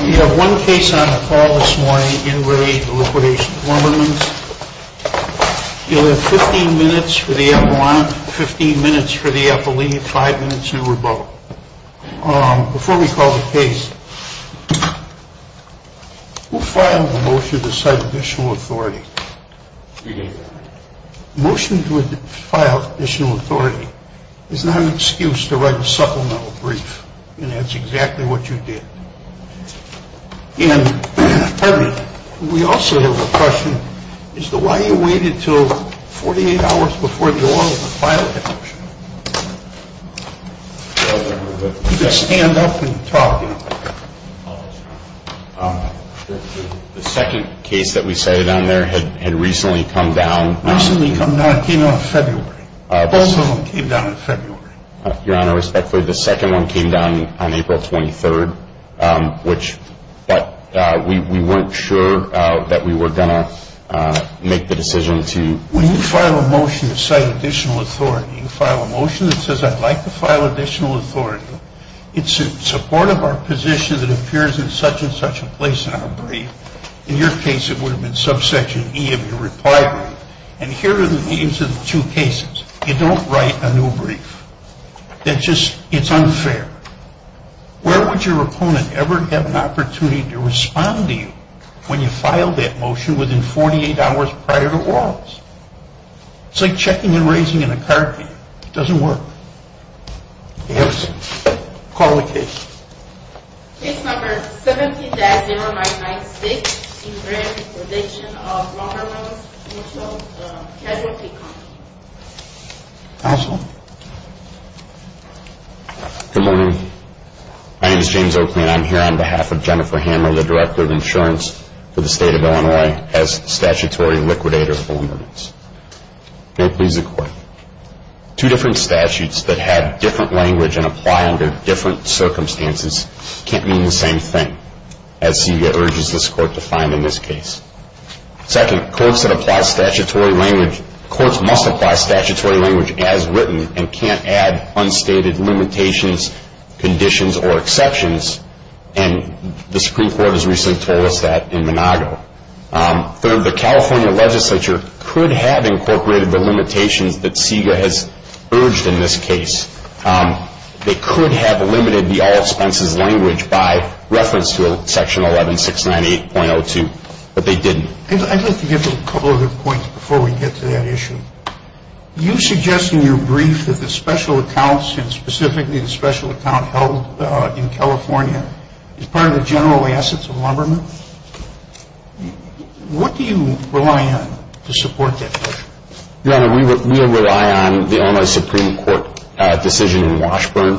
We have one case on the call this morning, In Re Liquidation of Lumbermens. You'll have 15 minutes for the epilogue, 15 minutes for the epile, 5 minutes for the rebuttal. Before we call the case, who filed the motion to cite additional authority? The motion to file additional authority is not an excuse to write a supplemental brief. And that's exactly what you did. And Harvey, we also have a question. Why did you wait until 48 hours before the order to file the motion? You could stand up and talk. The second case that we cited on there had recently come down. It came down in February. Both of them came down in February. Your Honor, respectfully, the second one came down on April 23rd, but we weren't sure that we were going to make the decision to... When you file a motion to cite additional authority, you file a motion that says, I'd like to file additional authority, it's in support of our position that appears in such and such a place on a brief. In your case, it would have been subsection E of your reply brief. And here are the names of the two cases. You don't write a new brief. It's unfair. Where would your opponent ever have an opportunity to respond to you when you filed that motion within 48 hours prior to Wallace? It's like checking and raising in a card game. It doesn't work. Yes. Call the case. Case number 17-0996, Ingram's Prediction of Vulnerable Mutual Casualty Company. Counsel? Good morning. My name is James Oakley, and I'm here on behalf of Jennifer Hammer, the Director of Insurance for the State of Illinois, as statutory liquidator of vulnerables. May it please the Court. Two different statutes that have different language and apply under different circumstances can't mean the same thing, as CBA urges this Court to find in this case. Second, courts that apply statutory language, courts must apply statutory language as written and can't add unstated limitations, conditions, or exceptions, and the Supreme Court has recently told us that in Monago. Third, the California legislature could have incorporated the limitations that CBA has urged in this case. They could have limited the all expenses language by reference to Section 11698.02, but they didn't. I'd like to give a couple of other points before we get to that issue. You suggest in your brief that the special accounts, and specifically the special account held in California, is part of the general assets of lumbermen. What do you rely on to support that? Your Honor, we rely on the Illinois Supreme Court decision in Washburn.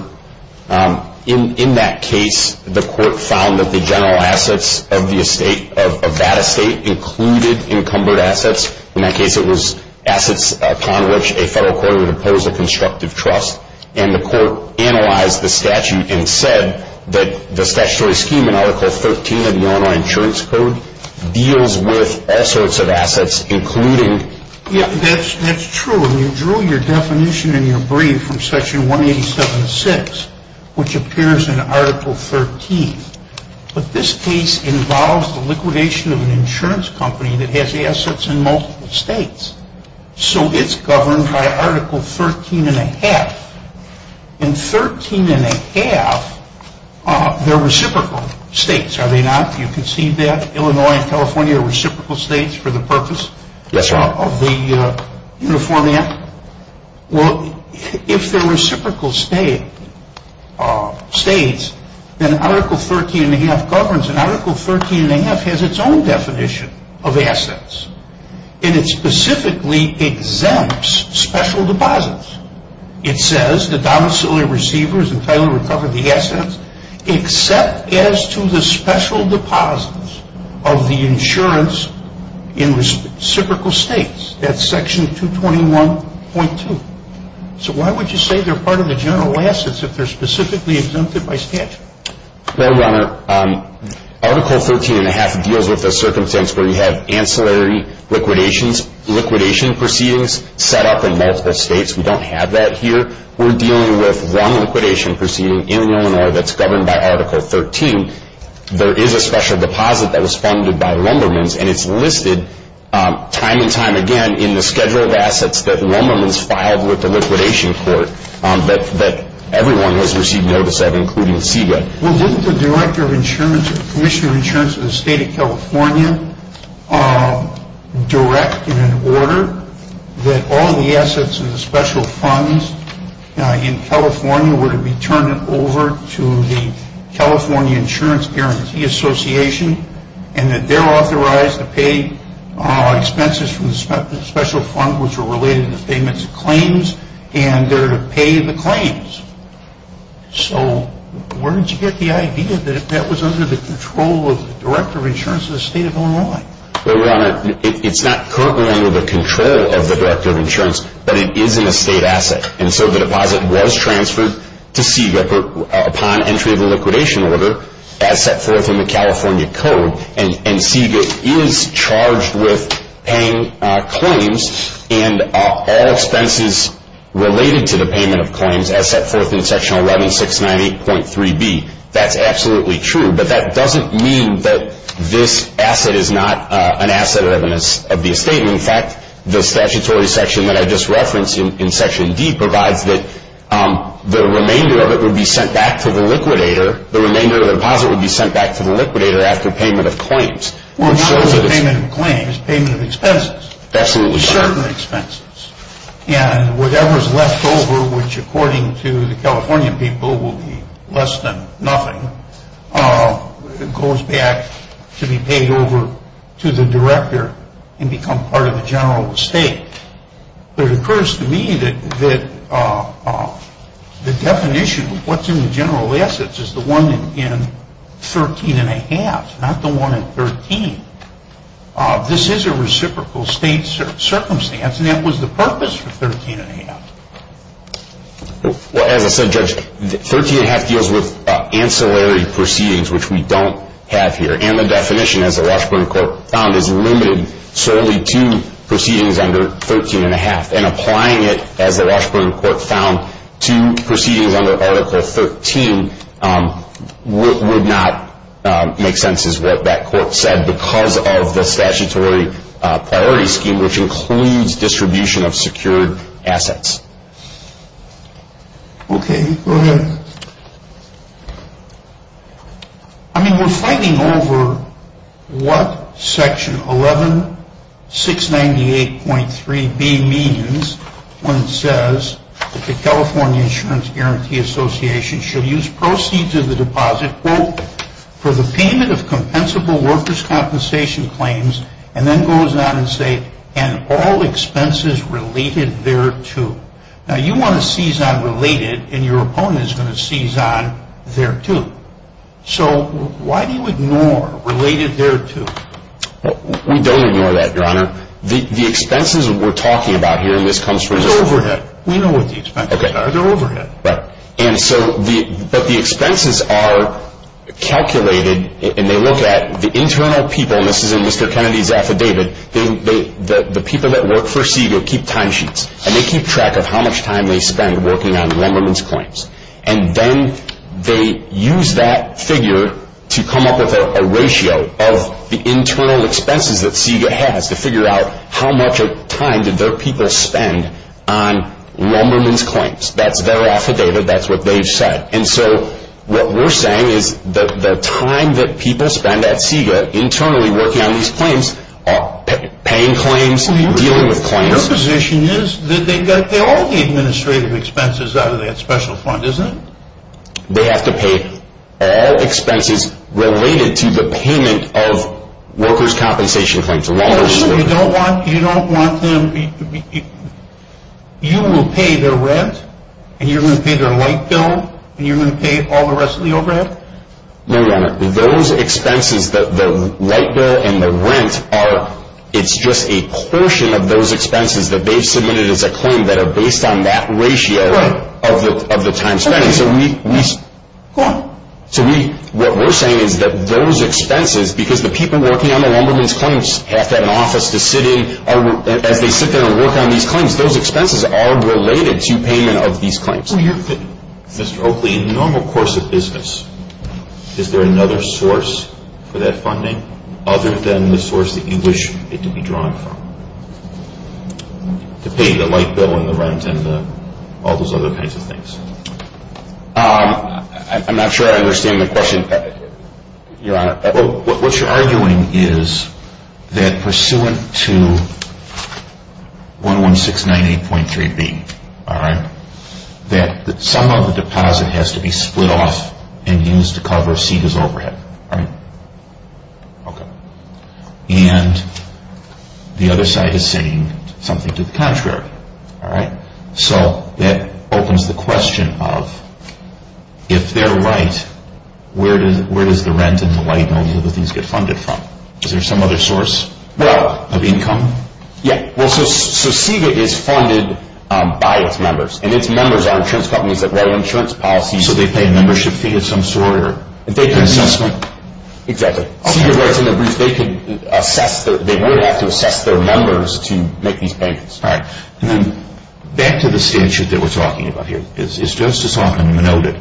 In that case, the Court found that the general assets of the estate, of that estate, included encumbered assets. In that case, it was assets upon which a federal court would impose a constructive trust, and the Court analyzed the statute and said that the statutory scheme in Article 13 of the Illinois Insurance Code deals with all sorts of assets, including... Yeah, that's true. And you drew your definition in your brief from Section 187.6, which appears in Article 13. But this case involves the liquidation of an insurance company that has assets in multiple states. So it's governed by Article 13.5. And 13.5, they're reciprocal states, are they not? You concede that? Illinois and California are reciprocal states for the purpose of the Uniform Act? Well, if they're reciprocal states, then Article 13.5 governs, and Article 13.5 has its own definition of assets. And it specifically exempts special deposits. It says the domiciliary receiver is entitled to recover the assets except as to the special deposits of the insurance in reciprocal states. That's Section 221.2. So why would you say they're part of the general assets if they're specifically exempted by statute? Well, Your Honor, Article 13.5 deals with the circumstance where you have ancillary liquidation proceedings set up in multiple states. We don't have that here. We're dealing with one liquidation proceeding in Illinois that's governed by Article 13. There is a special deposit that was funded by Lumbermans, and it's listed time and time again in the schedule of assets that Lumbermans filed with the liquidation court that everyone has received notice of, including SIGA. Well, didn't the Director of Insurance, Commissioner of Insurance of the State of California, direct in an order that all the assets of the special funds in California were to be turned over to the California Insurance Guarantee Association and that they're authorized to pay expenses from the special fund, which are related in the statements of claims, and they're to pay the claims? So where did you get the idea that if that was under the control of the Director of Insurance of the State of Illinois? Well, Your Honor, it's not currently under the control of the Director of Insurance, but it is an estate asset, and so the deposit was transferred to SIGA upon entry of the liquidation order as set forth in the California Code, and SIGA is charged with paying claims and all expenses related to the payment of claims as set forth in Section 11698.3b. That's absolutely true, but that doesn't mean that this asset is not an asset of the estate. In fact, the statutory section that I just referenced in Section D provides that the remainder of it would be sent back to the liquidator. The remainder of the deposit would be sent back to the liquidator after payment of claims. Well, not only payment of claims, payment of expenses. Absolutely. Certain expenses, and whatever's left over, which according to the California people will be less than nothing, goes back to be paid over to the director and become part of the general estate. It occurs to me that the definition of what's in the general assets is the one in 13 1⁄2, not the one in 13. This is a reciprocal state circumstance, and that was the purpose for 13 1⁄2. Well, as I said, Judge, 13 1⁄2 deals with ancillary proceedings, which we don't have here, and the definition, as the Washburn Court found, is limited solely to proceedings under 13 1⁄2, and applying it, as the Washburn Court found, to proceedings under Article 13 would not make sense as what that court said because of the statutory priority scheme, which includes distribution of secured assets. Okay, go ahead. I mean, we're fighting over what Section 11698.3b means when it says that the California Insurance Guarantee Association should use proceeds of the deposit, quote, for the payment of compensable workers' compensation claims, and then goes on to say, and all expenses related thereto. Now, you want to seize on related, and your opponent is going to seize on thereto. So why do you ignore related thereto? We don't ignore that, Your Honor. The expenses we're talking about here, and this comes from the— They're overhead. We know what the expenses are. They're overhead. Right, but the expenses are calculated, and they look at the internal people, and this is in Mr. Kennedy's affidavit, the people that work for Segal keep timesheets, and they keep track of how much time they spend working on lumberman's claims, and then they use that figure to come up with a ratio of the internal expenses that Segal has to figure out how much time did their people spend on lumberman's claims. That's their affidavit. That's what they've said. And so what we're saying is the time that people spend at Segal internally working on these claims, paying claims, dealing with claims— Your position is that they got all the administrative expenses out of that special fund, isn't it? They have to pay all expenses related to the payment of workers' compensation claims. You don't want them—you will pay their rent, and you're going to pay their light bill, and you're going to pay all the rest of the overhead? No, Your Honor. Those expenses, the light bill and the rent, it's just a portion of those expenses that they've submitted as a claim that are based on that ratio of the time spent. So we— Go on. So we—what we're saying is that those expenses, because the people working on the lumberman's claims have to have an office to sit in as they sit there and work on these claims, those expenses are related to payment of these claims. Mr. Oakley, in the normal course of business, is there another source for that funding other than the source that you wish it to be drawn from? To pay the light bill and the rent and all those other kinds of things. I'm not sure I understand the question, Your Honor. What you're arguing is that pursuant to 11698.3b, all right, that some of the deposit has to be split off and used to cover CEDA's overhead, right? Okay. And the other side is saying something to the contrary, all right? So that opens the question of, if they're right, where does the rent and the light bill and those other things get funded from? Is there some other source of income? Yeah. Well, so CEDA is funded by its members, and its members are insurance companies that write insurance policies. So they pay a membership fee of some sort or an assessment? Exactly. CEDA writes in their brief, they could assess—they would have to assess their members to make these payments. All right. And then back to the statute that we're talking about here. It's just as often noted,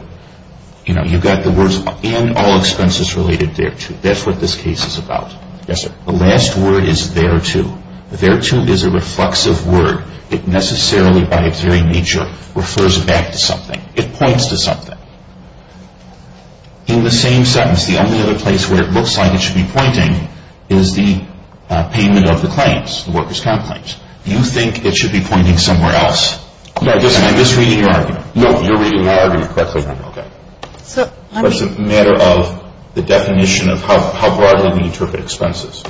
you know, you've got the words, and all expenses related thereto. That's what this case is about. Yes, sir. The last word is thereto. Thereto is a reflexive word. It necessarily, by its very nature, refers back to something. It points to something. In the same sentence, the only other place where it looks like it should be pointing is the payment of the claims, the workers' comp claims. You think it should be pointing somewhere else. No, listen, I'm just reading your argument. No, you're reading my argument correctly then. Okay. But it's a matter of the definition of how broadly we interpret expenses.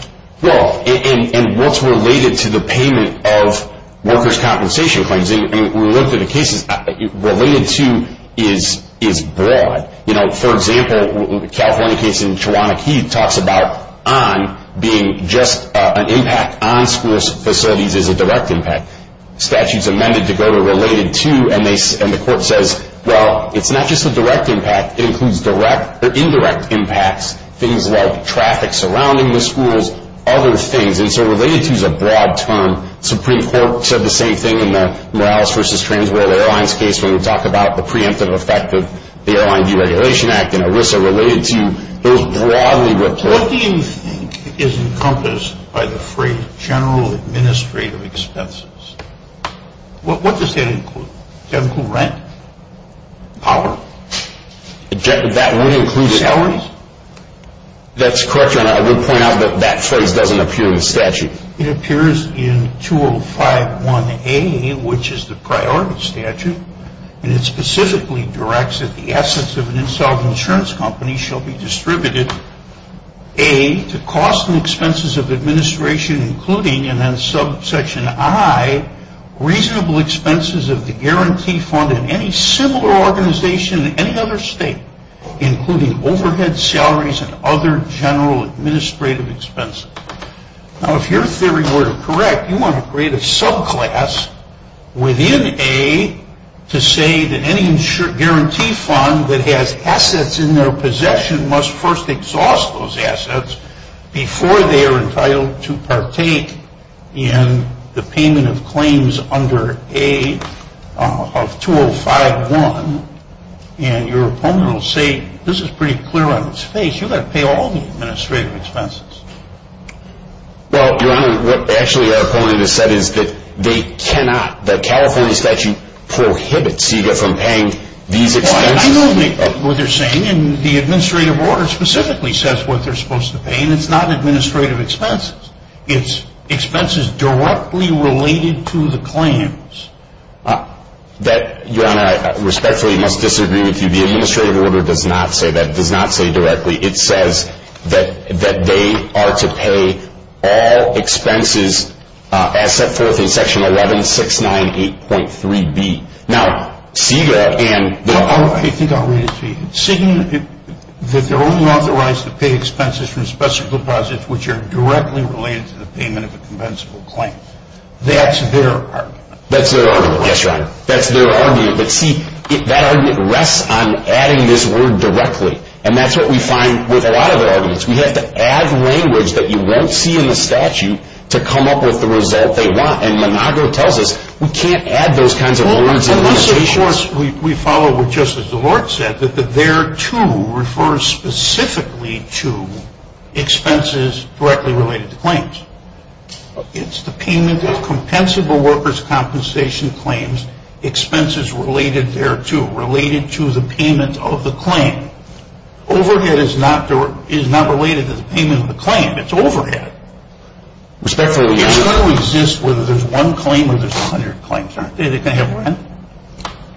Well, and what's related to the payment of workers' compensation claims. I mean, we looked at the cases. Related to is broad. You know, for example, the California case in Chawana Key talks about on being just an impact on school facilities as a direct impact. Statutes amended to go to related to, and the court says, well, it's not just a direct impact. It includes direct or indirect impacts, things like traffic surrounding the schools, other things. And so related to is a broad term. Supreme Court said the same thing in the Morales v. Trans World Airlines case when we talk about the preemptive effect of the Airline Deregulation Act and ERISA related to those broadly reported. What do you think is encompassed by the phrase general administrative expenses? What does that include? Does that include rent? Power? That would include salaries? That's correct, Your Honor. I would point out that that phrase doesn't appear in the statute. It appears in 2051A, which is the priority statute, and it specifically directs that the assets of an installed insurance company shall be distributed, A, to cost and expenses of administration, including, and then subsection I, reasonable expenses of the guarantee fund in any similar organization in any other state, including overhead salaries and other general administrative expenses. Now, if your theory were correct, you want to create a subclass within A to say that any guarantee fund that has assets in their possession must first exhaust those assets before they are entitled to partake in the payment of claims under A of 2051, and your opponent will say, this is pretty clear on its face, you've got to pay all the administrative expenses. Well, Your Honor, what actually our opponent has said is that they cannot, the California statute prohibits CEGA from paying these expenses. I know what they're saying, and the administrative order specifically says what they're supposed to pay, and it's not administrative expenses. It's expenses directly related to the claims. That, Your Honor, I respectfully must disagree with you. The administrative order does not say that. It does not say directly. It says that they are to pay all expenses as set forth in Section 11698.3B. Now, CEGA and the- I think I'll read it to you. CEGA, that they're only authorized to pay expenses from specific deposits which are directly related to the payment of a compensable claim. That's their argument. That's their argument. Yes, Your Honor. That's their argument. But, see, that argument rests on adding this word directly, and that's what we find with a lot of their arguments. We have to add language that you won't see in the statute to come up with the result they want, and Monago tells us we can't add those kinds of words and limitations. Well, unless, of course, we follow what Justice DeLorte said, that the thereto refers specifically to expenses directly related to claims. It's the payment of compensable workers' compensation claims, expenses related thereto, related to the payment of the claim. Overhead is not related to the payment of the claim. It's overhead. Respectfully, Your Honor- You've got to resist whether there's one claim or there's 100 claims, aren't there? They can have rent.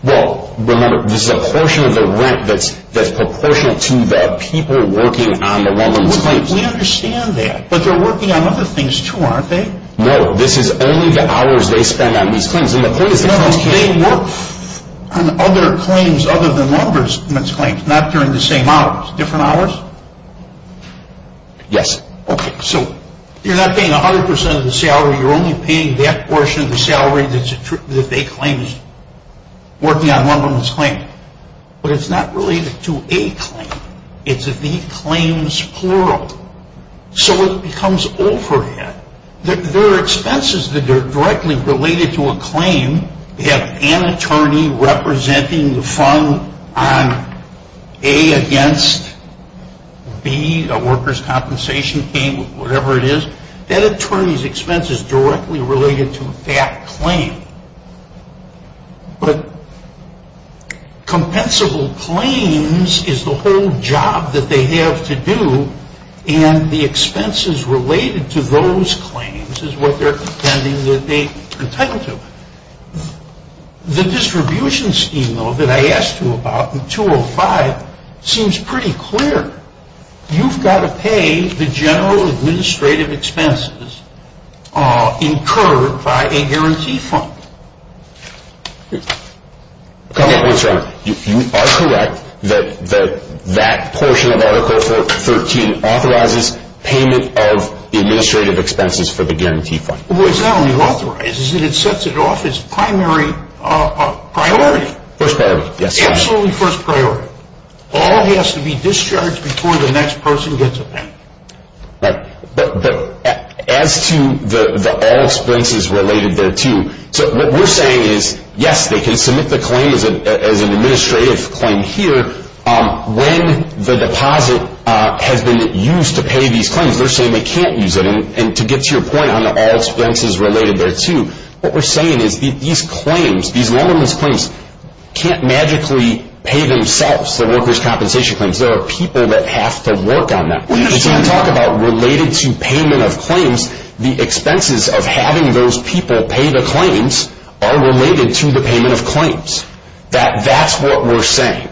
Well, remember, this is a portion of the rent that's proportional to the people working on the one of the claims. We understand that, but they're working on other things, too, aren't they? No, this is only the hours they spend on these claims. They work on other claims other than lumberman's claims, not during the same hours. Different hours? Yes. Okay, so you're not paying 100% of the salary. You're only paying that portion of the salary that they claim is working on lumberman's claim. But it's not related to a claim. It's the claims plural. So it becomes overhead. There are expenses that are directly related to a claim. You have an attorney representing the fund on A against B, a workers' compensation claim, whatever it is. That attorney's expense is directly related to that claim. But compensable claims is the whole job that they have to do, and the expenses related to those claims is what they're contending that they contend to. The distribution scheme, though, that I asked you about in 205 seems pretty clear. You've got to pay the general administrative expenses incurred by a guarantee fund. You are correct that that portion of Article 13 authorizes payment of administrative expenses for the guarantee fund. Well, it not only authorizes it, it sets it off as primary priority. First priority, yes. Absolutely first priority. All has to be discharged before the next person gets it back. Right. But as to the all expenses related thereto, what we're saying is, yes, they can submit the claim as an administrative claim here. When the deposit has been used to pay these claims, they're saying they can't use it. And to get to your point on the all expenses related thereto, what we're saying is these claims, these loaner's claims, can't magically pay themselves, the workers' compensation claims. There are people that have to work on them. When you talk about related to payment of claims, the expenses of having those people pay the claims are related to the payment of claims. That's what we're saying.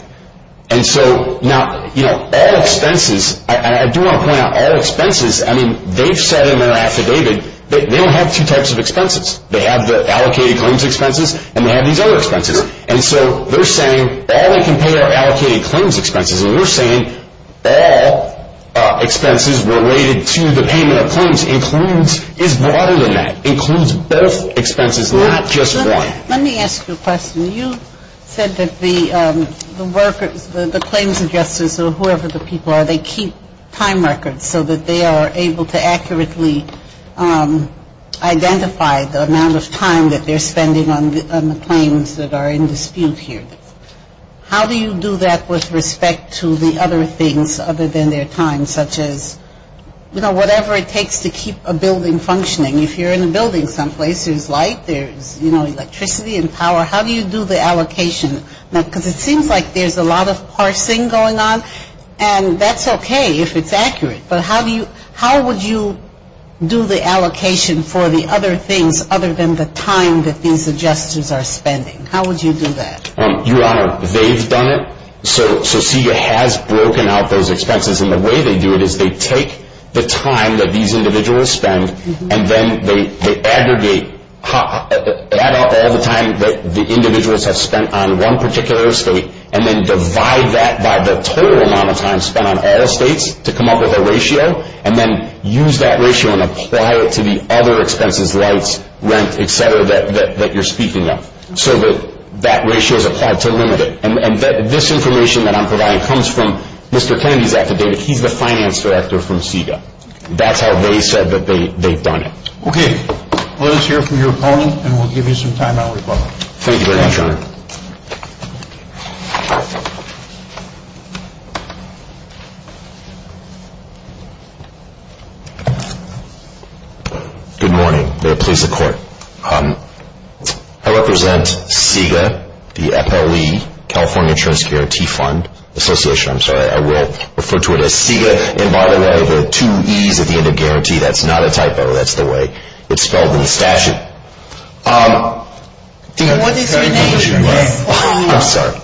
And so, now, all expenses, I do want to point out, all expenses, I mean, they've said in their affidavit that they don't have two types of expenses. They have the allocated claims expenses and they have these other expenses. And so they're saying all they can pay are allocated claims expenses. And we're saying all expenses related to the payment of claims is broader than that, includes both expenses, not just one. Let me ask you a question. You said that the claims adjusters or whoever the people are, they keep time records so that they are able to accurately identify the amount of time that they're spending on the claims that are in dispute here. How do you do that with respect to the other things other than their time, such as, you know, whatever it takes to keep a building functioning? If you're in a building someplace, there's light, there's, you know, electricity and power. How do you do the allocation? Because it seems like there's a lot of parsing going on, and that's okay if it's accurate. But how would you do the allocation for the other things other than the time that these adjusters are spending? How would you do that? Your Honor, they've done it. So CEA has broken out those expenses. And the way they do it is they take the time that these individuals spend and then they aggregate, add up all the time that the individuals have spent on one particular estate and then divide that by the total amount of time spent on all estates to come up with a ratio and then use that ratio and apply it to the other expenses, lights, rent, et cetera, that you're speaking of. So that ratio is applied to limit it. And this information that I'm providing comes from Mr. Kennedy's affidavit. He's the finance director from CEA. That's how they said that they've done it. Okay. Let us hear from your opponent, and we'll give you some time out as well. Thank you very much, Your Honor. Good morning. May it please the Court. I represent CEA, the FLE, California Insurance Guarantee Fund Association. I'm sorry, I will refer to it as CEA. And by the way, the two E's at the end of guarantee, that's not a typo. That's the way it's spelled in the statute. What is your name? I'm sorry.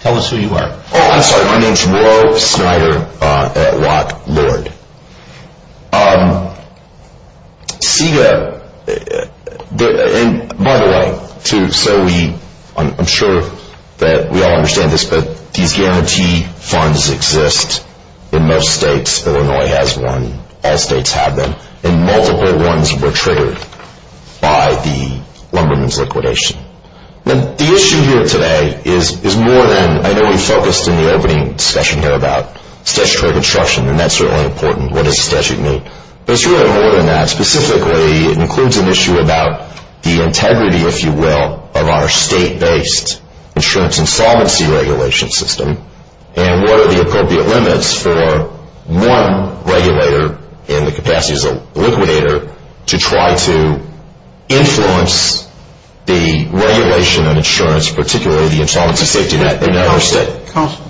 Tell us who you are. Oh, I'm sorry. My name is Roe Snyder-Watt-Lord. CEA, and by the way, I'm sure that we all understand this, but these guarantee funds exist in most states. Illinois has one. All states have them. And multiple ones were triggered by the Lumberman's liquidation. The issue here today is more than, I know we focused in the opening discussion here about statutory construction, and that's certainly important. What does statute mean? But it's really more than that. Specifically, it includes an issue about the integrity, if you will, of our state-based insurance insolvency regulation system and what are the appropriate limits for one regulator in the capacity as a liquidator to try to influence the regulation of insurance, particularly the insolvency safety net. Counsel,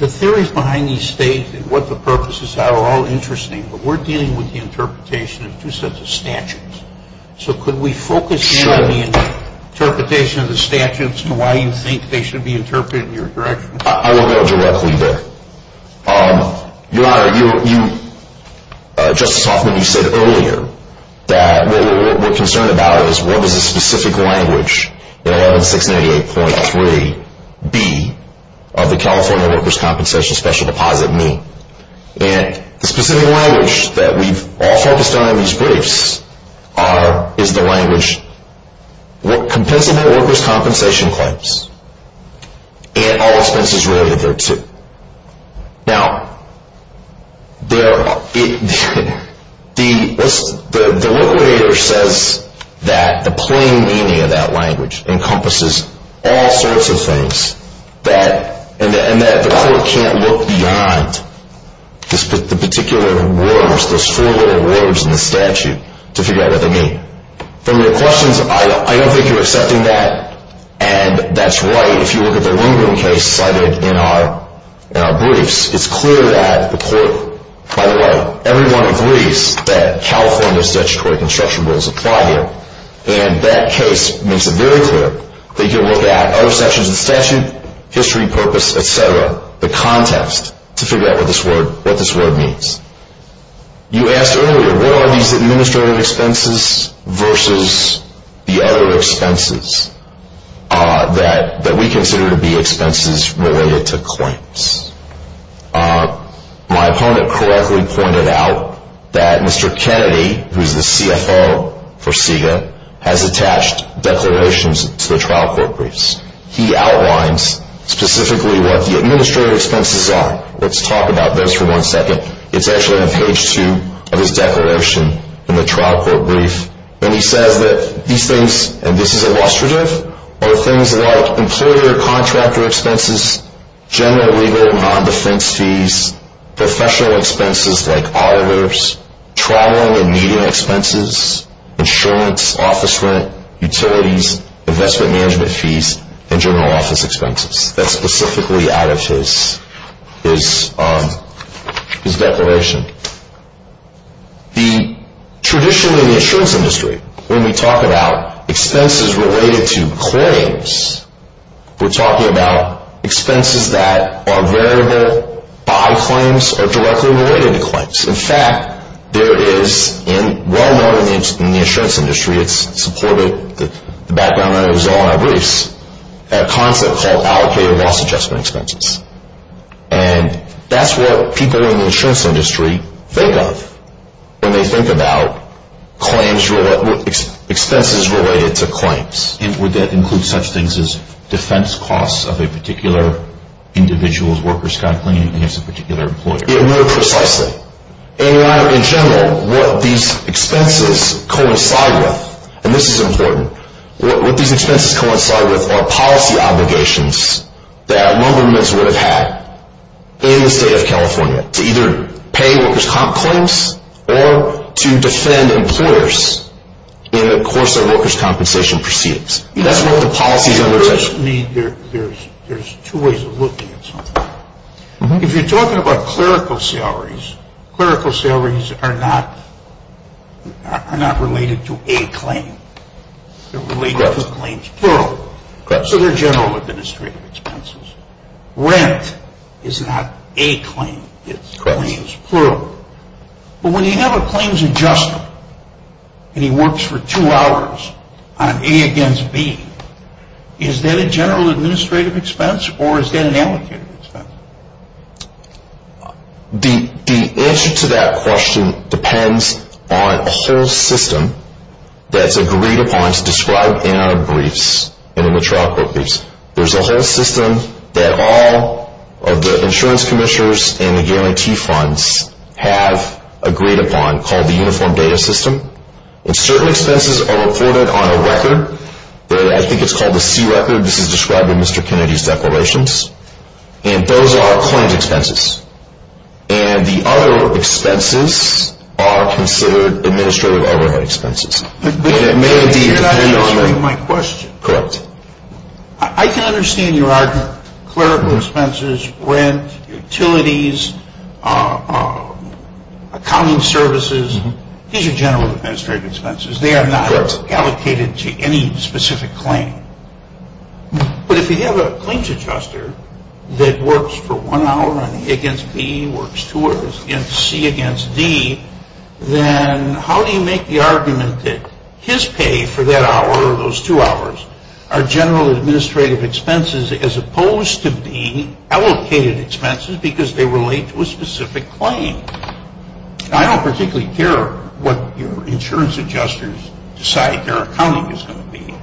the theories behind these states and what the purposes are are all interesting, but we're dealing with the interpretation of two sets of statutes. So could we focus in on the interpretation of the statutes and why you think they should be interpreted in your direction? I won't go directly there. Your Honor, Justice Hoffman, you said earlier that what we're concerned about is what does the specific language in 11688.3b of the California Workers' Compensation Special Deposit mean? And the specific language that we've all focused on in these briefs is the language, what compensable workers' compensation claims and all expenses related there to. Now, the liquidator says that the plain meaning of that language encompasses all sorts of things and that the court can't look beyond the particular words, those four little words in the statute, to figure out what they mean. From your questions, I don't think you're accepting that. And that's right if you look at the Lindgren case cited in our briefs. It's clear that the court, by the way, everyone agrees that California statutory construction rules apply here. And that case makes it very clear that you can look at other sections of the statute, history, purpose, et cetera, the context, to figure out what this word means. You asked earlier, what are these administrative expenses versus the other expenses that we consider to be expenses related to claims? My opponent correctly pointed out that Mr. Kennedy, who's the CFO for CEGA, has attached declarations to the trial court briefs. He outlines specifically what the administrative expenses are. Let's talk about those for one second. It's actually on page two of his declaration in the trial court brief. And he says that these things, and this is illustrative, are things like employer-contractor expenses, general legal and non-defense fees, professional expenses like auditors, travel and media expenses, insurance, office rent, utilities, investment management fees, and general office expenses. That's specifically out of his declaration. Traditionally in the insurance industry, when we talk about expenses related to claims, we're talking about expenses that are variable by claims or directly related to claims. In fact, there is, well known in the insurance industry, it's supported, the background on it is all in our briefs, a concept called allocated loss adjustment expenses. And that's what people in the insurance industry think of when they think about expenses related to claims. Would that include such things as defense costs of a particular individual's worker's company against a particular employer? No, precisely. In general, what these expenses coincide with, and this is important, what these expenses coincide with are policy obligations that one government would have had in the state of California to either pay worker's comp claims or to defend employers in the course of worker's compensation proceedings. That's what the policy is under attention to. There's two ways of looking at something. If you're talking about clerical salaries, clerical salaries are not related to a claim. They're related to claims, plural. So they're general administrative expenses. Rent is not a claim. It's claims, plural. But when you have a claims adjustment and he works for two hours on A against B, is that a general administrative expense or is that an allocated expense? The answer to that question depends on a whole system that's agreed upon. It's described in our briefs and in the trial court briefs. There's a whole system that all of the insurance commissioners and the guarantee funds have agreed upon called the uniform data system. And certain expenses are reported on a record. I think it's called the C record. This is described in Mr. Kennedy's declarations. And those are claims expenses. And the other expenses are considered administrative overhead expenses. But that's not answering my question. Correct. I can understand your argument. Clerical expenses, rent, utilities, accounting services. These are general administrative expenses. They are not allocated to any specific claim. But if you have a claims adjuster that works for one hour on A against B, works two hours on C against D, then how do you make the argument that his pay for that hour or those two hours are general administrative expenses as opposed to being allocated expenses because they relate to a specific claim? I don't particularly care what your insurance adjusters decide their accounting is going to be.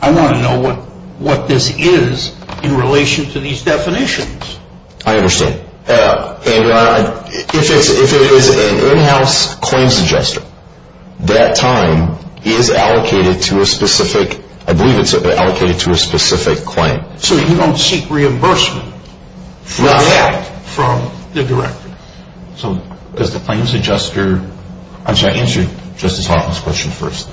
I want to know what this is in relation to these definitions. I understand. Andrew, if it is an in-house claims adjuster, that time is allocated to a specific, I believe it's allocated to a specific claim. So you don't seek reimbursement for that from the director. Does the claims adjuster, actually I answered Justice Hoffman's question first.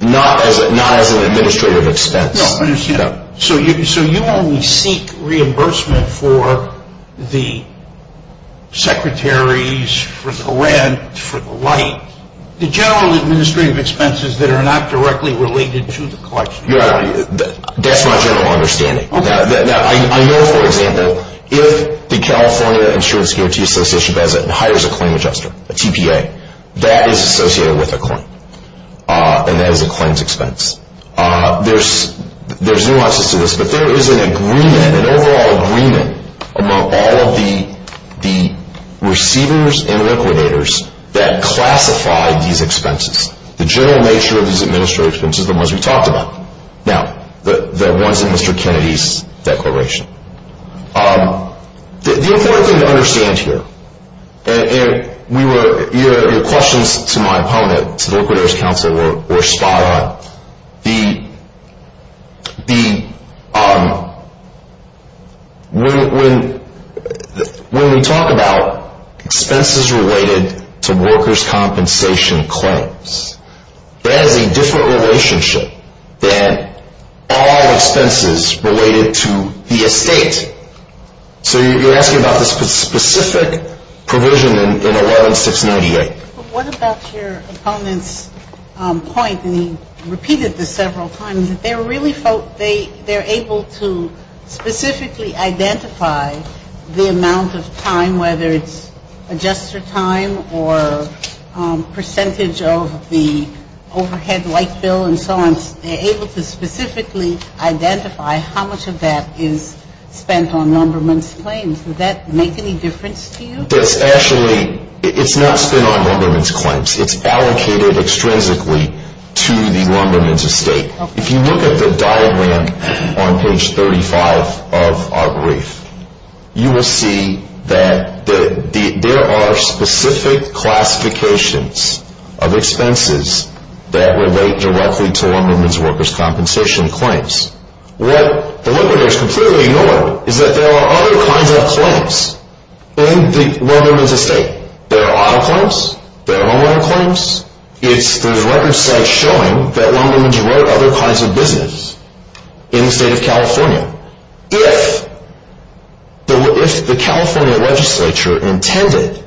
Not as an administrative expense. No, I understand. So you only seek reimbursement for the secretaries, for the rent, for the light. The general administrative expenses that are not directly related to the collection. That's my general understanding. I know, for example, if the California Insurance Guarantee Association hires a claim adjuster, a TPA, that is associated with a claim, and that is a claims expense. There's nuances to this, but there is an agreement, an overall agreement, among all of the receivers and liquidators that classify these expenses. The general nature of these administrative expenses are the ones we talked about. Now, the ones in Mr. Kennedy's declaration. The important thing to understand here, and your questions to my opponent, to the Liquidators Council, were spot on. When we talk about expenses related to workers' compensation claims, that is a different relationship than all expenses related to the estate. So you're asking about the specific provision in 11698. But what about your opponent's point, and he repeated this several times, that they're able to specifically identify the amount of time, whether it's adjuster time or percentage of the overhead light bill and so on. They're able to specifically identify how much of that is spent on lumberman's claims. Would that make any difference to you? That's actually, it's not spent on lumberman's claims. It's allocated extrinsically to the lumberman's estate. If you look at the diagram on page 35 of our brief, you will see that there are specific classifications of expenses that relate directly to lumberman's workers' compensation claims. What the liquidators completely ignored is that there are other kinds of claims in the lumberman's estate. There are auto claims. There are homeowner claims. There's records showing that lumberman's wrote other kinds of business in the state of California. If the California legislature intended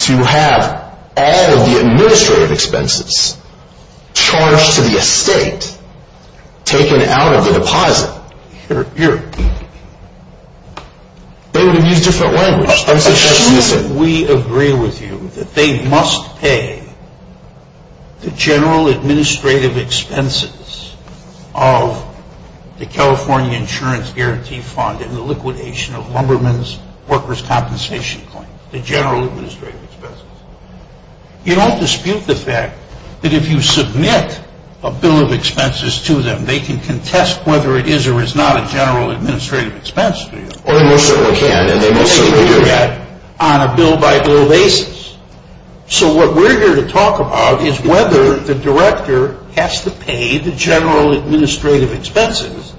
to have all of the administrative expenses charged to the estate taken out of the deposit, they would have used different language. We agree with you that they must pay the general administrative expenses of the California Insurance Guarantee Fund and the liquidation of lumberman's workers' compensation claims. The general administrative expenses. You don't dispute the fact that if you submit a bill of expenses to them, they can contest whether it is or is not a general administrative expense to you. They most certainly can, and they most certainly do that. On a bill-by-bill basis. What we're here to talk about is whether the director has to pay the general administrative expenses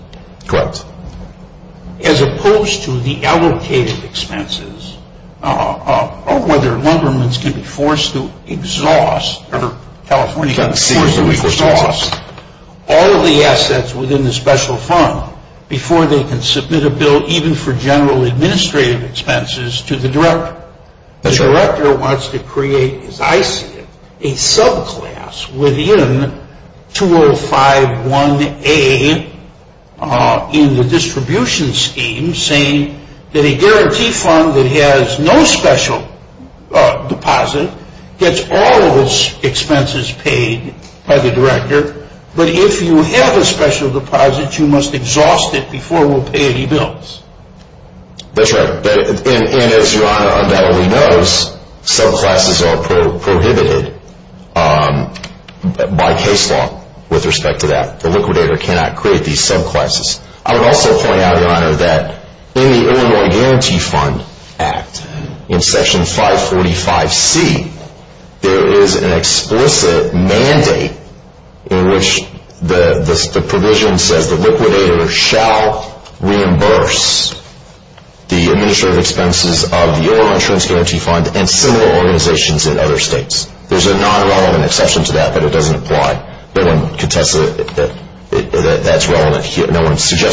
as opposed to the allocated expenses, or whether lumberman's can be forced to exhaust all of the assets within the special fund before they can submit a bill even for general administrative expenses to the director. The director wants to create, as I see it, a subclass within 2051A in the distribution scheme saying that a guarantee fund that has no special deposit gets all of its expenses paid by the director, but if you have a special deposit, you must exhaust it before we'll pay any bills. That's right. And as Your Honor undoubtedly knows, subclasses are prohibited by case law with respect to that. The liquidator cannot create these subclasses. I would also point out, Your Honor, that in the Illinois Guarantee Fund Act, in Section 545C, there is an explicit mandate in which the provision says the liquidator shall reimburse the administrative expenses of the Illinois Insurance Guarantee Fund and similar organizations in other states. There's a non-relevant exception to that, but it doesn't apply. No one suggests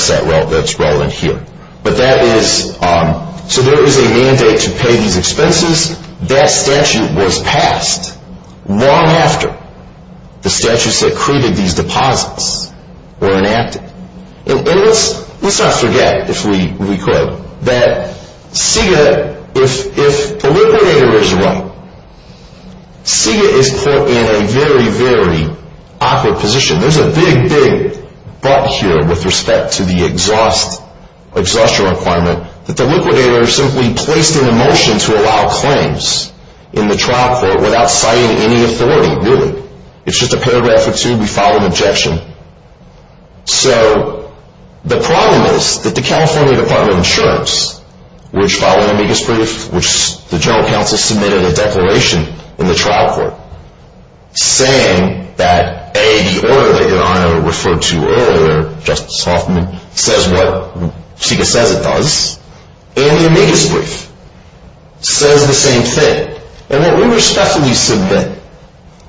that's relevant here. So there is a mandate to pay these expenses. That statute was passed long after the statutes that created these deposits were enacted. And let's not forget, if we could, that if the liquidator is wrong, SIGA is put in a very, very awkward position. There's a big, big but here with respect to the exhaustion requirement that the liquidator is simply placed in a motion to allow claims in the trial court without citing any authority, really. It's just a paragraph or two, we file an objection. So the problem is that the California Department of Insurance, which filed an amicus brief, which the General Counsel submitted a declaration in the trial court, saying that A, the order that Your Honor referred to earlier, Justice Hoffman, says what SIGA says it does, and the amicus brief says the same thing. And what we respectfully submit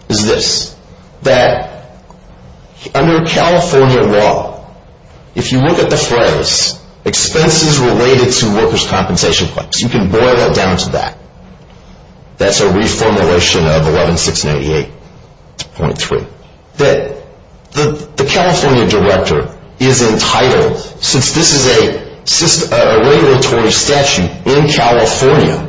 is this, that under California law, if you look at the phrase, expenses related to workers' compensation claims, you can boil it down to that. That's a reformulation of 11688.3. That the California director is entitled, since this is a regulatory statute in California,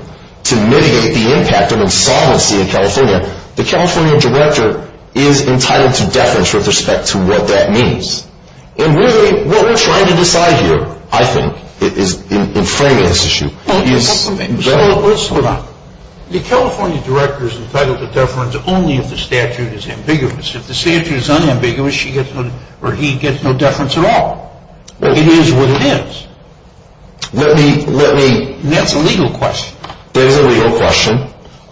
to mitigate the impact of insolvency in California, the California director is entitled to deference with respect to what that means. And really, what we're trying to decide here, I think, in framing this issue is The California director is entitled to deference only if the statute is ambiguous. If the statute is unambiguous, he gets no deference at all. It is what it is. That's a legal question. It is a legal question.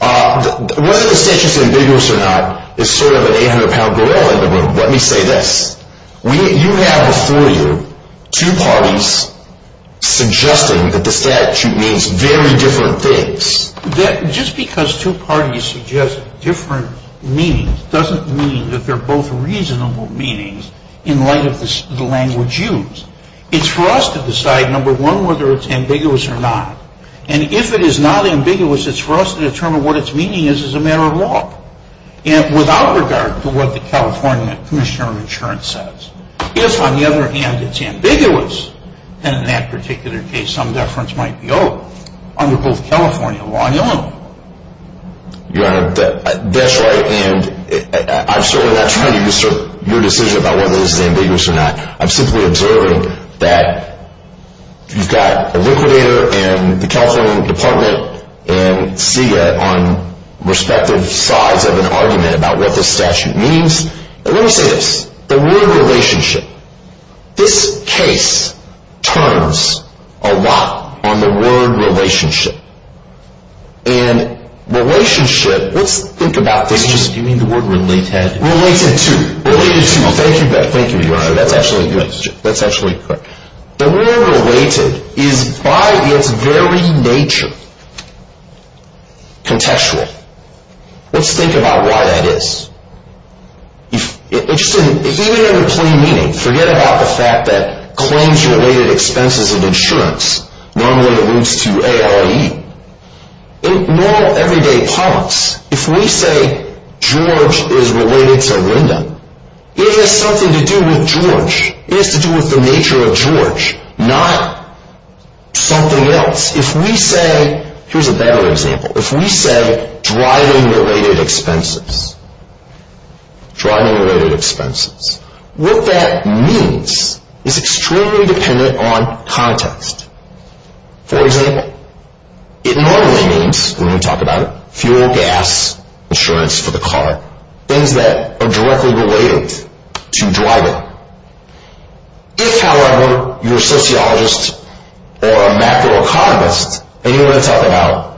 Whether the statute is ambiguous or not is sort of an 800-pound gorilla, but let me say this. You have a three-year, two parties suggesting that the statute means very different things. Just because two parties suggest different meanings doesn't mean that they're both reasonable meanings in light of the language used. It's for us to decide, number one, whether it's ambiguous or not. And if it is not ambiguous, it's for us to determine what its meaning is as a matter of law. And without regard to what the California commissioner of insurance says, if, on the other hand, it's ambiguous, then in that particular case, some deference might be owed under both California law and Illinois law. Your Honor, that's right, and I'm certainly not trying to disturb your decision about whether this is ambiguous or not. I'm simply observing that you've got a liquidator and the California Department and CIA on respective sides of an argument about what this statute means. And let me say this. The word relationship. This case turns a lot on the word relationship. And relationship, let's think about this. You mean the word related? Related to. Related to. Thank you, Your Honor. That's actually correct. The word related is, by its very nature, contextual. Let's think about why that is. Even in a plain meaning, forget about the fact that claims-related expenses of insurance normally alludes to ARE. In normal, everyday politics, if we say George is related to Linda, it has something to do with George. It has to do with the nature of George, not something else. If we say, here's a better example, if we say driving-related expenses, what that means is extremely dependent on context. For example, it normally means, when we talk about it, fuel, gas, insurance for the car. Things that are directly related to driving. If, however, you're a sociologist or a macroeconomist, and you want to talk about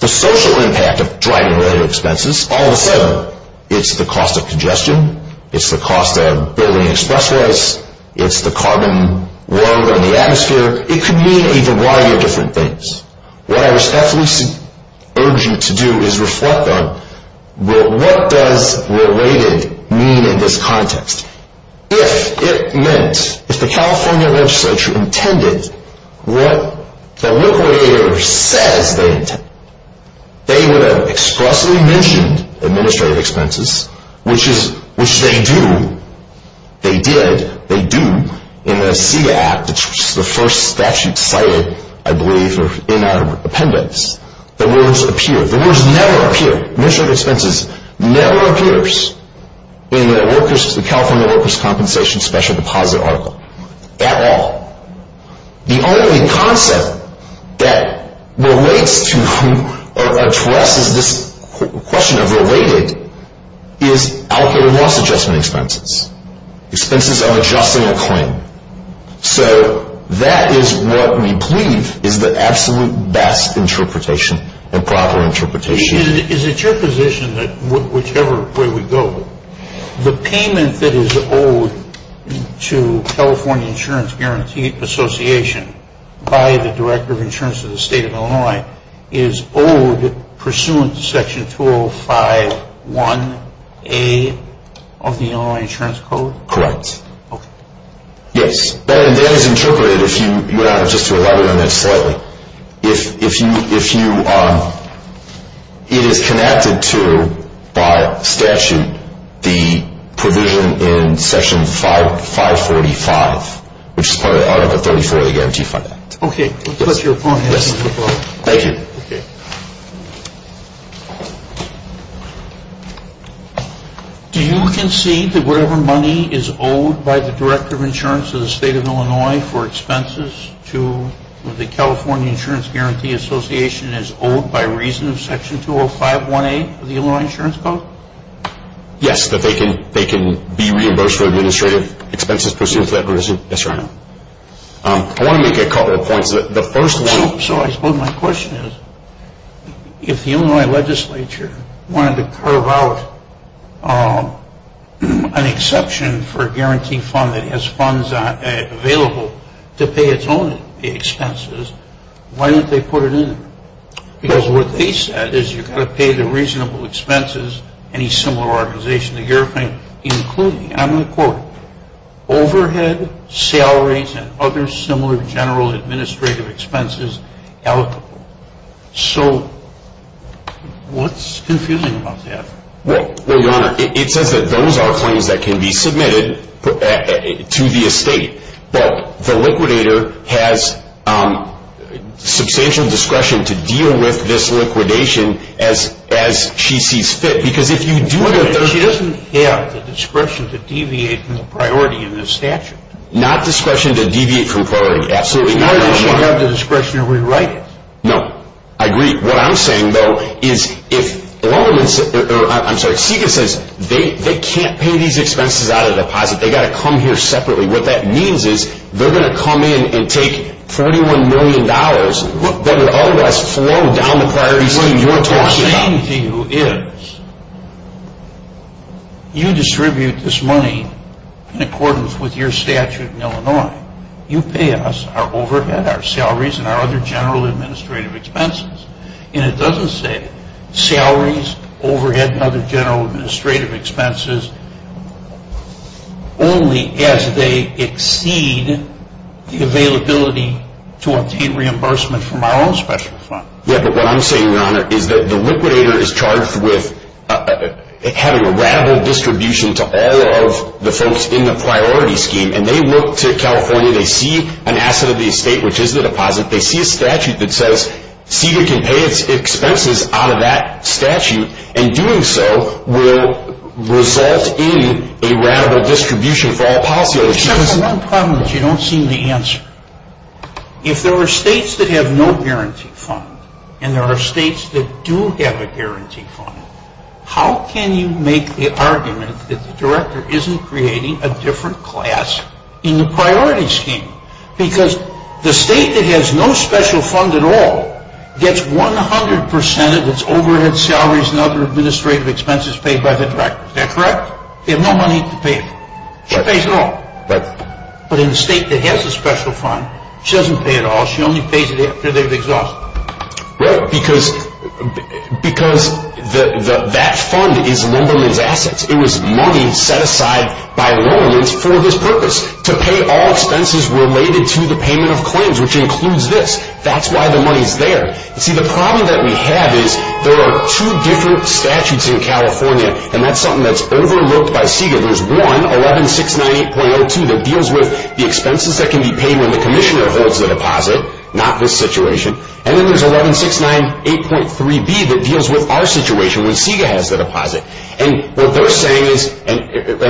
the social impact of driving-related expenses, all of a sudden, it's the cost of congestion, it's the cost of building expressways, it's the carbon load on the atmosphere. It could mean a variety of different things. What I respectfully urge you to do is reflect on, what does related mean in this context? If it meant, if the California legislature intended what the liquidator says they intend, they would have expressly mentioned administrative expenses, which they do. They did. They do. In the SEIA Act, which is the first statute cited, I believe, in our appendix, the words appear. The words never appear. Administrative expenses never appears in the California Workers' Compensation Special Deposit Article at all. The only concept that relates to or addresses this question of related is out there loss adjustment expenses. Expenses of adjusting a claim. So that is what we believe is the absolute best interpretation and proper interpretation. Is it your position that whichever way we go, the payment that is owed to California Insurance Guarantee Association by the Director of Insurance of the State of Illinois is owed pursuant to Section 205-1A of the Illinois Insurance Code? Correct. Okay. Yes. That is interpreted if you, just to elaborate on that slightly. If you, it is connected to, by statute, the provision in Section 545, which is part of the Article 34 of the Guarantee Fund Act. Okay. Yes. Thank you. Okay. Do you concede that whatever money is owed by the Director of Insurance of the State of Illinois for expenses to the California Insurance Guarantee Association is owed by reason of Section 205-1A of the Illinois Insurance Code? Yes, that they can be reimbursed for administrative expenses pursuant to that provision. Yes, Your Honor. I want to make a couple of points. So I suppose my question is, if the Illinois Legislature wanted to carve out an exception for a guarantee fund that has funds available to pay its own expenses, why don't they put it in? Because what they said is you've got to pay the reasonable expenses, any similar organization to your claim, including, and I'm going to quote, overhead, salaries, and other similar general administrative expenses allocable. So what's confusing about that? Well, Your Honor, it says that those are claims that can be submitted to the estate, but the liquidator has substantial discretion to deal with this liquidation as she sees fit. But she doesn't have the discretion to deviate from the priority in this statute. Not discretion to deviate from priority, absolutely not. She doesn't have the discretion to rewrite it. No, I agree. What I'm saying, though, is if, I'm sorry, Sika says they can't pay these expenses out of deposit, they've got to come here separately. What that means is they're going to come in and take $41 million that would otherwise flow down the priority scheme you're talking about. What I'm saying to you is you distribute this money in accordance with your statute in Illinois. You pay us our overhead, our salaries, and our other general administrative expenses. And it doesn't say salaries, overhead, and other general administrative expenses, only as they exceed the availability to obtain reimbursement from our own special fund. Yeah, but what I'm saying, Your Honor, is that the liquidator is charged with having a ratable distribution to all of the folks in the priority scheme. And they look to California. They see an asset of the estate, which is the deposit. They see a statute that says Sika can pay its expenses out of that statute. And doing so will result in a ratable distribution for all policyholders. Except for one problem that you don't seem to answer. If there are states that have no guarantee fund and there are states that do have a guarantee fund, how can you make the argument that the director isn't creating a different class in the priority scheme? Because the state that has no special fund at all gets 100% of its overhead, salaries, and other administrative expenses paid by the director. Is that correct? They have no money to pay for it. She pays it all. But in a state that has a special fund, she doesn't pay it all. She only pays it after they've exhausted it. Right, because that fund is Lumberman's assets. It was money set aside by Lumberman for this purpose. To pay all expenses related to the payment of claims, which includes this. That's why the money's there. See, the problem that we have is there are two different statutes in California. And that's something that's overlooked by Sika. There's one, 11698.02, that deals with the expenses that can be paid when the commissioner holds the deposit. Not this situation. And then there's 11698.3b that deals with our situation when Sika has the deposit. And what they're saying is, and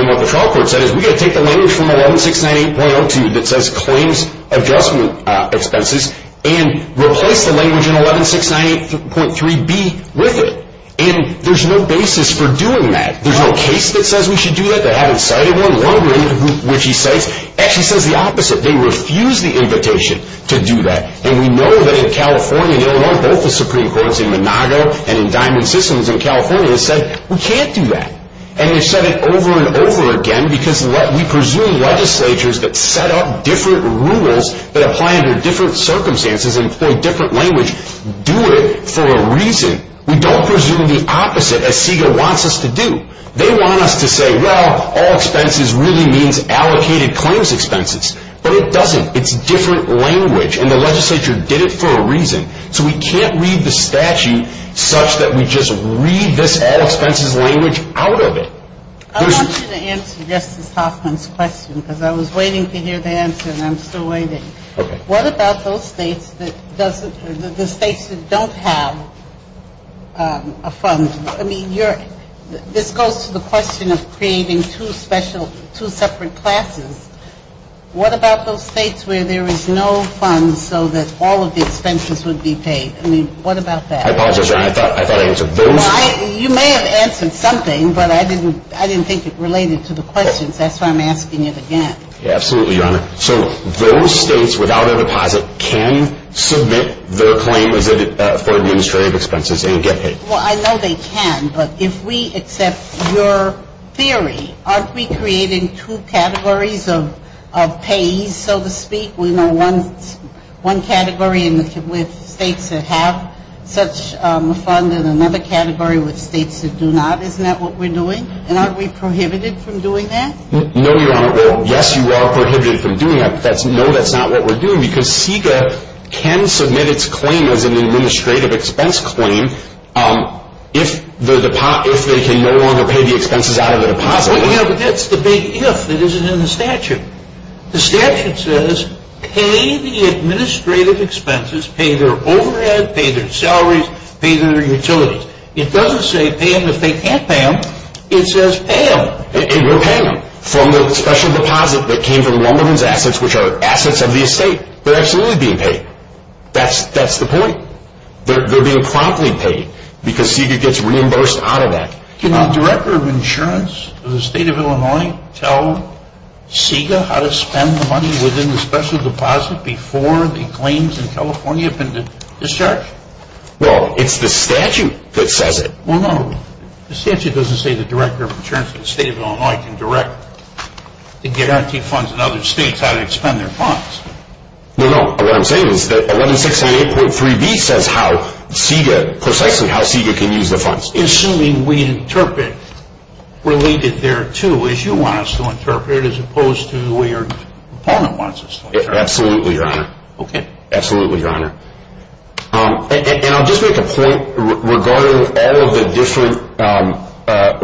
what the trial court said is, we've got to take the language from 11698.02 that says claims adjustment expenses and replace the language in 11698.3b with it. And there's no basis for doing that. There's no case that says we should do that. They haven't cited one. Lumberman, which he cites, actually says the opposite. They refuse the invitation to do that. And we know that in California, both the Supreme Courts in Monago and in Diamond Systems in California, have said we can't do that. And they've said it over and over again, because we presume legislatures that set up different rules that apply under different circumstances and employ different language do it for a reason. We don't presume the opposite, as Sika wants us to do. They want us to say, well, all expenses really means allocated claims expenses. But it doesn't. It's different language, and the legislature did it for a reason. So we can't read the statute such that we just read this all expenses language out of it. I want you to answer Justice Hoffman's question, because I was waiting to hear the answer, and I'm still waiting. Okay. What about those states that don't have a fund? I mean, this goes to the question of creating two separate classes. What about those states where there is no fund so that all of the expenses would be paid? I mean, what about that? I apologize, Your Honor. I thought I answered those. You may have answered something, but I didn't think it related to the questions. That's why I'm asking it again. Absolutely, Your Honor. So those states without a deposit can submit their claim for administrative expenses and get paid. Well, I know they can. But if we accept your theory, aren't we creating two categories of payees, so to speak? We know one category with states that have such a fund and another category with states that do not. Isn't that what we're doing? And aren't we prohibited from doing that? No, Your Honor. Well, yes, you are prohibited from doing that, but no, that's not what we're doing because CEQA can submit its claim as an administrative expense claim if they can no longer pay the expenses out of the deposit. But that's the big if that isn't in the statute. The statute says pay the administrative expenses, pay their overhead, pay their salaries, pay their utilities. It doesn't say pay them if they can't pay them. It says pay them. And we're paying them from the special deposit that came from one of those assets, which are assets of the estate. They're absolutely being paid. That's the point. They're being promptly paid because CEQA gets reimbursed out of that. Can the Director of Insurance of the State of Illinois tell CEQA how to spend the money within the special deposit before the claims in California have been discharged? Well, it's the statute that says it. Well, no. The statute doesn't say the Director of Insurance of the State of Illinois can direct the guarantee funds in other states how to expend their funds. No, no. What I'm saying is that 1168.3b says how CEQA, precisely how CEQA can use the funds. Assuming we interpret related thereto as you want us to interpret as opposed to the way your opponent wants us to interpret. Absolutely, Your Honor. Okay. Absolutely, Your Honor. And I'll just make a point regarding all of the different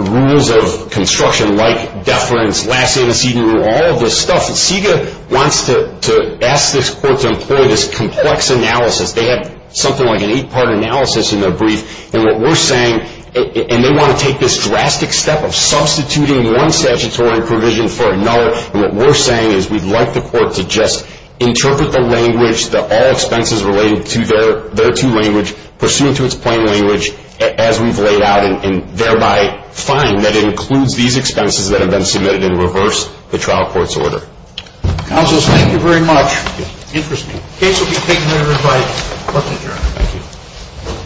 rules of construction like deference, last antecedent rule, all of this stuff. CEQA wants to ask this court to employ this complex analysis. They have something like an eight-part analysis in their brief. And what we're saying, and they want to take this drastic step of substituting one statutory provision for another. And what we're saying is we'd like the court to just interpret the language, the all expenses related to their two language, pursuant to its plain language, as we've laid out, and thereby find that it includes these expenses that have been submitted in reverse the trial court's order. Counsel, thank you very much. Interesting. The case will be taken under revised court's adjournment. Thank you.